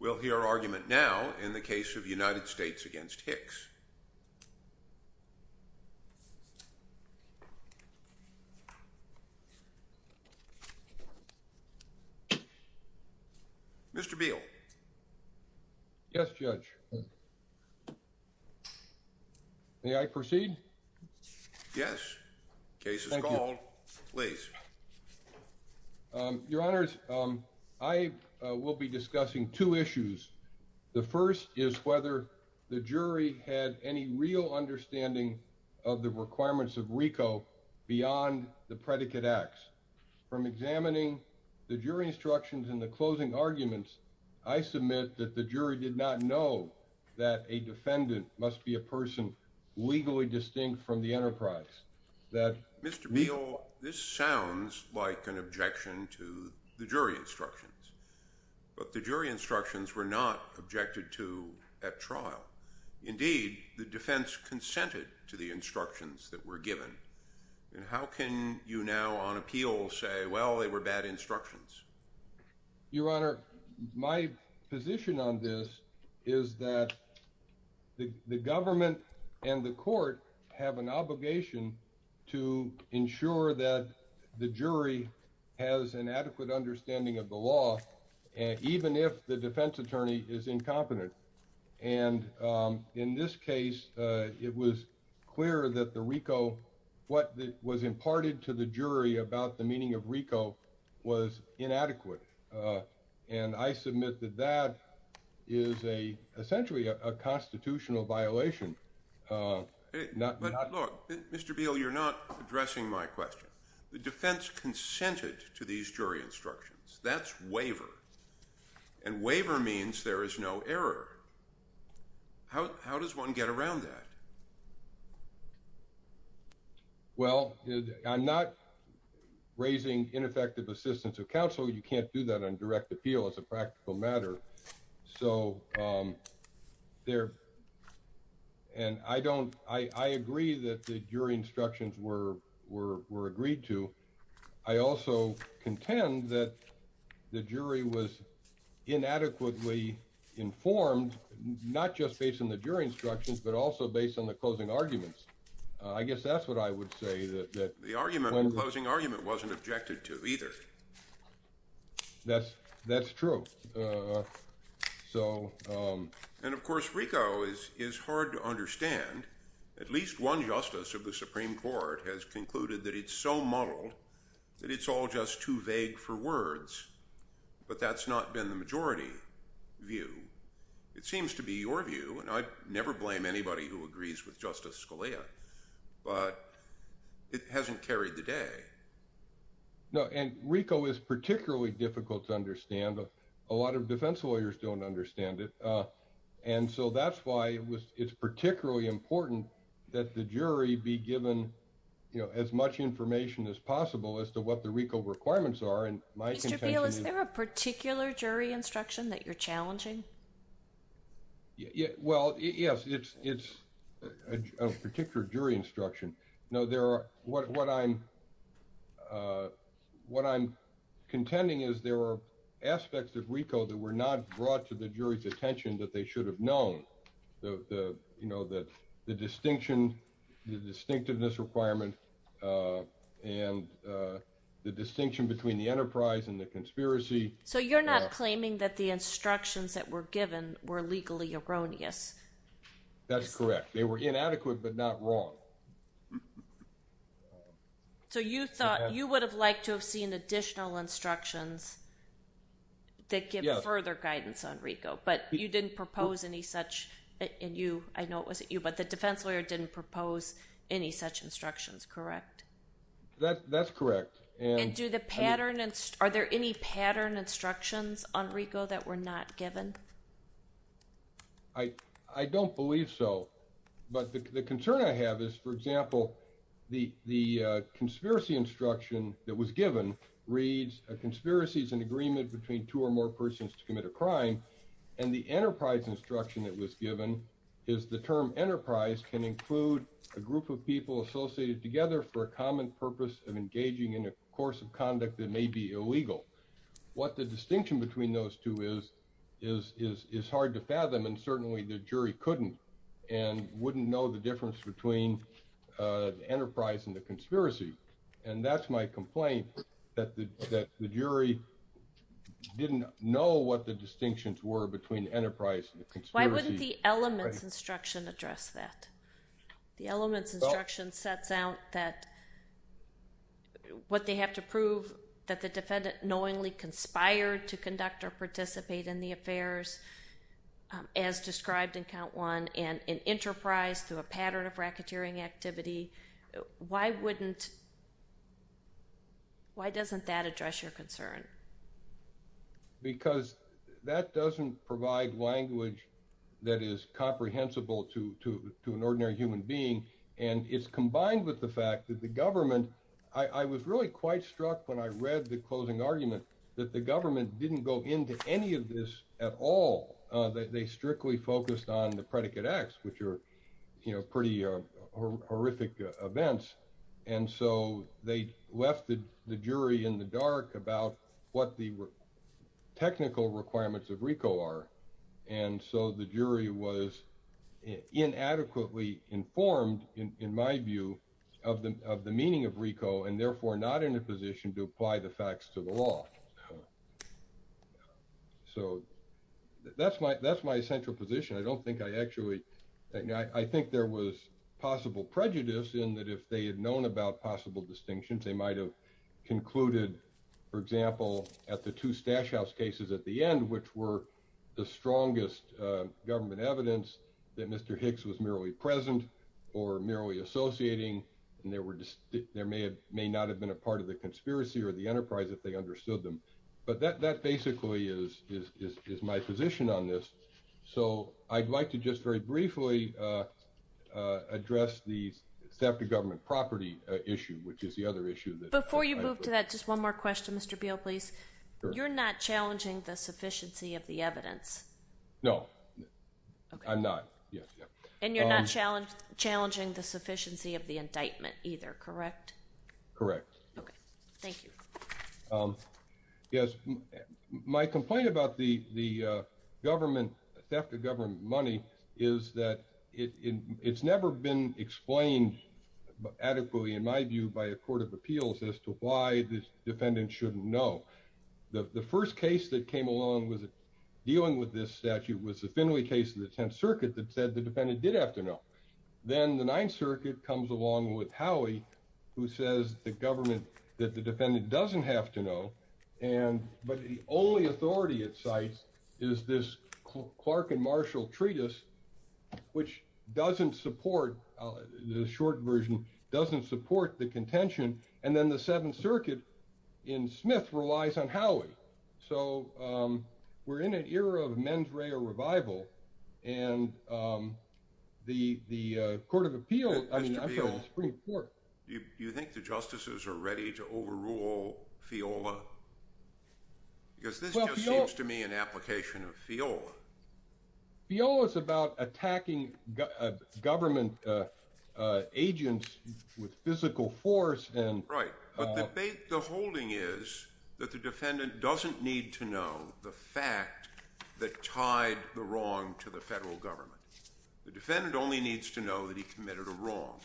We'll hear argument now in the case of United States v. Hicks. Mr. Beal. Yes, Judge. May I proceed? Yes. The case is called. Thank you. Please. Your Honor, I will be discussing two issues. The first is whether the jury had any real understanding of the requirements of RICO beyond the predicate acts. From examining the jury instructions and the closing arguments, I submit that the jury did not know that a defendant must be a person legally distinct from the enterprise. Mr. Beal, this sounds like an objection to the jury instructions, but the jury instructions were not objected to at trial. Indeed, the defense consented to the instructions that were given. How can you now on appeal say, well, they were bad instructions? Your Honor, my position on this is that the government and the court have an obligation to ensure that the jury has an adequate understanding of the law, even if the defense attorney is incompetent. And in this case, it was clear that the RICO, what was imparted to the jury about the meaning of RICO was inadequate. And I submit that that is essentially a constitutional violation. But look, Mr. Beal, you're not addressing my question. The defense consented to these jury instructions. That's waiver. And waiver means there is no error. How does one get around that? Well, I'm not raising ineffective assistance of counsel. You can't do that on direct appeal as a practical matter. So there and I don't I agree that the jury instructions were agreed to. I also contend that the jury was inadequately informed, not just based on the jury instructions, but also based on the closing arguments. I guess that's what I would say that the argument closing argument wasn't objected to either. That's that's true. So and of course, RICO is is hard to understand. At least one justice of the Supreme Court has concluded that it's so muddled that it's all just too vague for words. But that's not been the majority view. It seems to be your view, and I never blame anybody who agrees with Justice Scalia, but it hasn't carried the day. And RICO is particularly difficult to understand. A lot of defense lawyers don't understand it. And so that's why it's particularly important that the jury be given as much information as possible as to what the RICO requirements are. Mr. Beal, is there a particular jury instruction that you're challenging? Well, yes, it's a particular jury instruction. No, there are what I'm what I'm contending is there are aspects of RICO that were not brought to the jury's attention that they should have known. The you know, the distinction, the distinctiveness requirement and the distinction between the enterprise and the conspiracy. So you're not claiming that the instructions that were given were legally erroneous? That's correct. They were inadequate, but not wrong. So you thought you would have liked to have seen additional instructions that give further guidance on RICO, but you didn't propose any such and you I know it wasn't you, but the defense lawyer didn't propose any such instructions, correct? That's correct. And do the pattern and are there any pattern instructions on RICO that were not given? I don't believe so, but the concern I have is, for example, the the conspiracy instruction that was given reads a conspiracy is an agreement between two or more persons to commit a crime. And the enterprise instruction that was given is the term enterprise can include a course of conduct that may be illegal. What the distinction between those two is, is, is, is hard to fathom. And certainly the jury couldn't and wouldn't know the difference between the enterprise and the conspiracy. And that's my complaint, that the jury didn't know what the distinctions were between enterprise and the conspiracy. Why wouldn't the elements instruction address that? The elements instruction sets out that what they have to prove that the defendant knowingly conspired to conduct or participate in the affairs as described in count one and in enterprise through a pattern of racketeering activity. Why wouldn't. Why doesn't that address your concern? Because that doesn't provide language that is comprehensible to to to an ordinary human being. And it's combined with the fact that the government I was really quite struck when I read the closing argument that the government didn't go into any of this at all, that they strictly focused on the predicate X, which are, you know, pretty horrific events. And so they left the jury in the dark about what the technical requirements of RICO are. And so the jury was inadequately informed, in my view, of the of the meaning of RICO and therefore not in a position to apply the facts to the law. So that's my that's my central position. I don't think I actually I think there was possible prejudice in that if they had known about possible distinctions, they might have concluded, for example, at the two stash house cases at the end, which were the strongest government evidence that Mr. Hicks was merely present or merely associating. And there were there may have may not have been a part of the conspiracy or the enterprise if they understood them. But that basically is is my position on this. So I'd like to just very briefly address the theft of government property issue, which is the other issue. Before you move to that, just one more question, Mr. Beale, please. You're not challenging the sufficiency of the evidence. No, I'm not. And you're not challenged challenging the sufficiency of the indictment either. Correct. Correct. Thank you. Yes. My complaint about the the government theft of government money is that it's never been explained adequately, in my view, by a court of appeals as to why the defendant shouldn't know. The first case that came along was dealing with this statute was the Finley case in the 10th Circuit that said the defendant did have to know. Then the 9th Circuit comes along with Howie, who says the government that the defendant doesn't have to know. And but the only authority it cites is this Clark and Marshall treatise, which doesn't support the short version, doesn't support the contention. And then the 7th Circuit in Smith relies on Howie. So we're in an era of mens rea revival. And the the court of appeal. I mean, I'm pretty sure you think the justices are ready to overrule FIOLA because this just seems to me an application of FIOLA. FIOLA is about attacking government agents with physical force. And right. But the holding is that the defendant doesn't need to know the fact that tied the wrong to the federal government. The defendant only needs to know that he committed a wrong.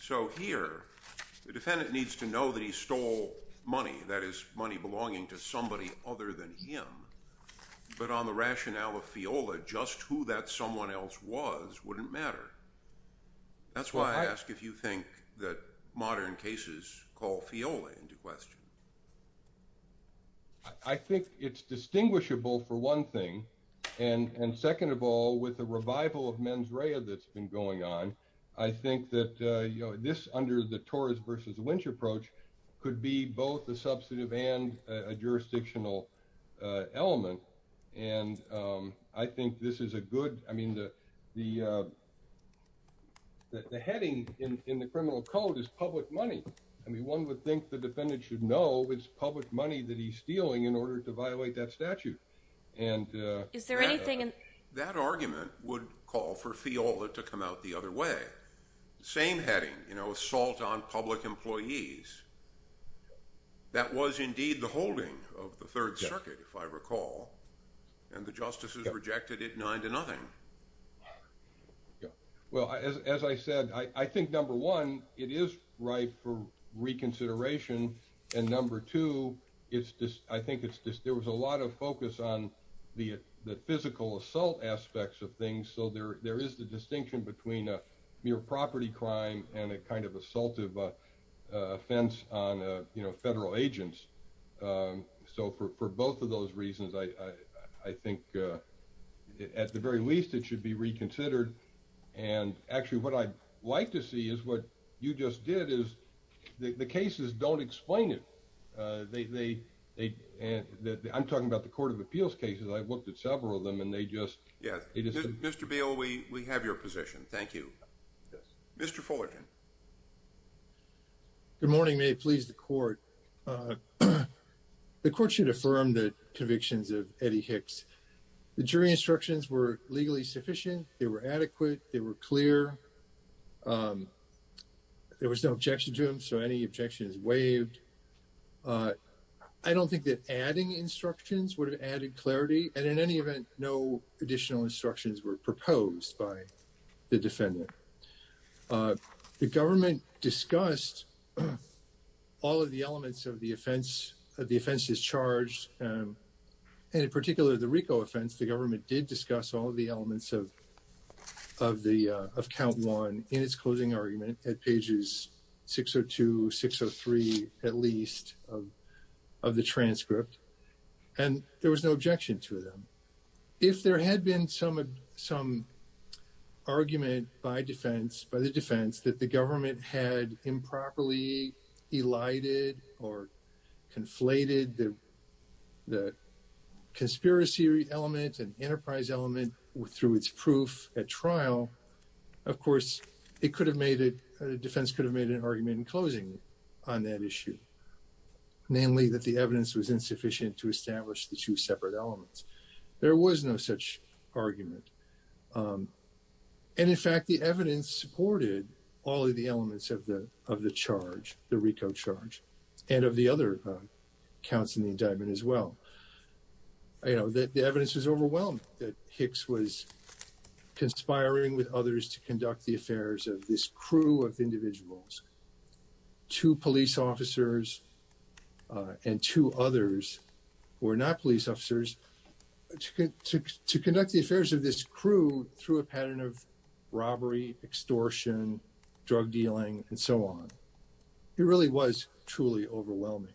So here the defendant needs to know that he stole money, that is money belonging to somebody other than him. But on the rationale of FIOLA, just who that someone else was wouldn't matter. That's why I ask if you think that modern cases call FIOLA into question. I think it's distinguishable for one thing, and second of all, with the revival of mens rea that's been going on, I think that this under the Torres versus Lynch approach could be both a substantive and a jurisdictional element. And I think this is a good I mean, the the the heading in the criminal code is public money. I mean, one would think the defendant should know it's public money that he's stealing in order to violate that statute. And is there anything in that argument would call for FIOLA to come out the other way? Same heading, you know, assault on public employees. That was indeed the holding of the Third Circuit, if I recall. And the justices rejected it nine to nothing. Well, as I said, I think, number one, it is right for reconsideration. And number two, it's just I think it's just there was a lot of focus on the the physical assault aspects of things. So there there is the distinction between a mere property crime and a kind of assaultive offense on federal agents. So for for both of those reasons, I I think at the very least, it should be reconsidered. And actually, what I'd like to see is what you just did is the cases don't explain it. They they they and I'm talking about the Court of Appeals cases. I've looked at several of them and they just. Yes, it is. Mr. Beal, we we have your position. Thank you, Mr. Fullerton. Good morning, may it please the court. The court should affirm the convictions of Eddie Hicks, the jury instructions were legally sufficient, they were adequate, they were clear. There was no objection to him, so any objections waived. I don't think that adding instructions would have added clarity. And in any event, no additional instructions were proposed by the defendant. The government discussed all of the elements of the offense, the offense is charged, and in particular, the RICO offense, the government did discuss all of the elements of of the of count one in its closing argument at pages six or two, six or three, at least of of the transcript. And there was no objection to them. If there had been some some argument by defense, by the defense, that the government had improperly elided or conflated the the conspiracy element and enterprise element through its proof at trial, of course, it could have made it the defense could have made an argument in closing on that issue, namely that the evidence was insufficient to establish the two there was no such argument. And in fact, the evidence supported all of the elements of the of the charge, the RICO charge, and of the other counts in the indictment as well. I know that the evidence is overwhelming that Hicks was conspiring with others to conduct the affairs of this crew of individuals. Two police officers and two others were not police officers to to to conduct the affairs of this crew through a pattern of robbery, extortion, drug dealing, and so on. It really was truly overwhelming.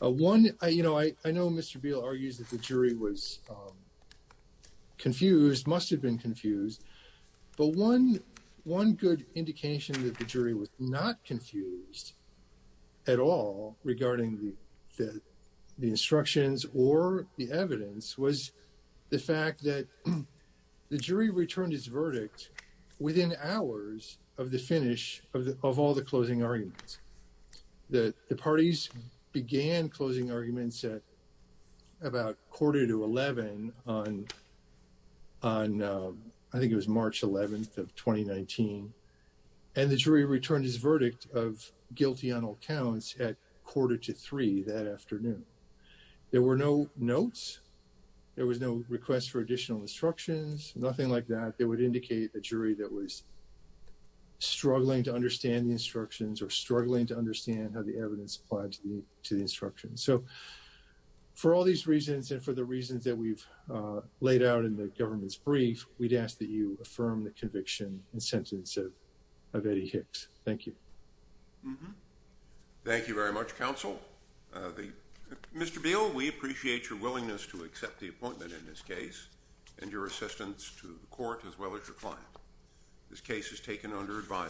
One, you know, I know Mr. Beal argues that the jury was confused, must have been confused. But one one good indication that the jury was not confused at all regarding the the instructions or the evidence was the fact that the jury returned its verdict within hours of the finish of all the closing arguments, that the parties began closing arguments at about quarter to 11 on on I think it was March 11th of 2019. And the jury returned his verdict of guilty on all counts at quarter to three that afternoon. There were no notes, there was no request for additional instructions, nothing like that that would indicate a jury that was struggling to understand the instructions or struggling to understand how the evidence applied to the to the instructions. So for all these reasons and for the reasons that we've laid out in the government's brief, we'd ask that you affirm the conviction and sentence of Eddie Hicks. Thank you. Thank you very much, counsel. Mr. Beal, we appreciate your willingness to accept the appointment in this case and your assistance to the court as well as your client. This case is taken under advisory.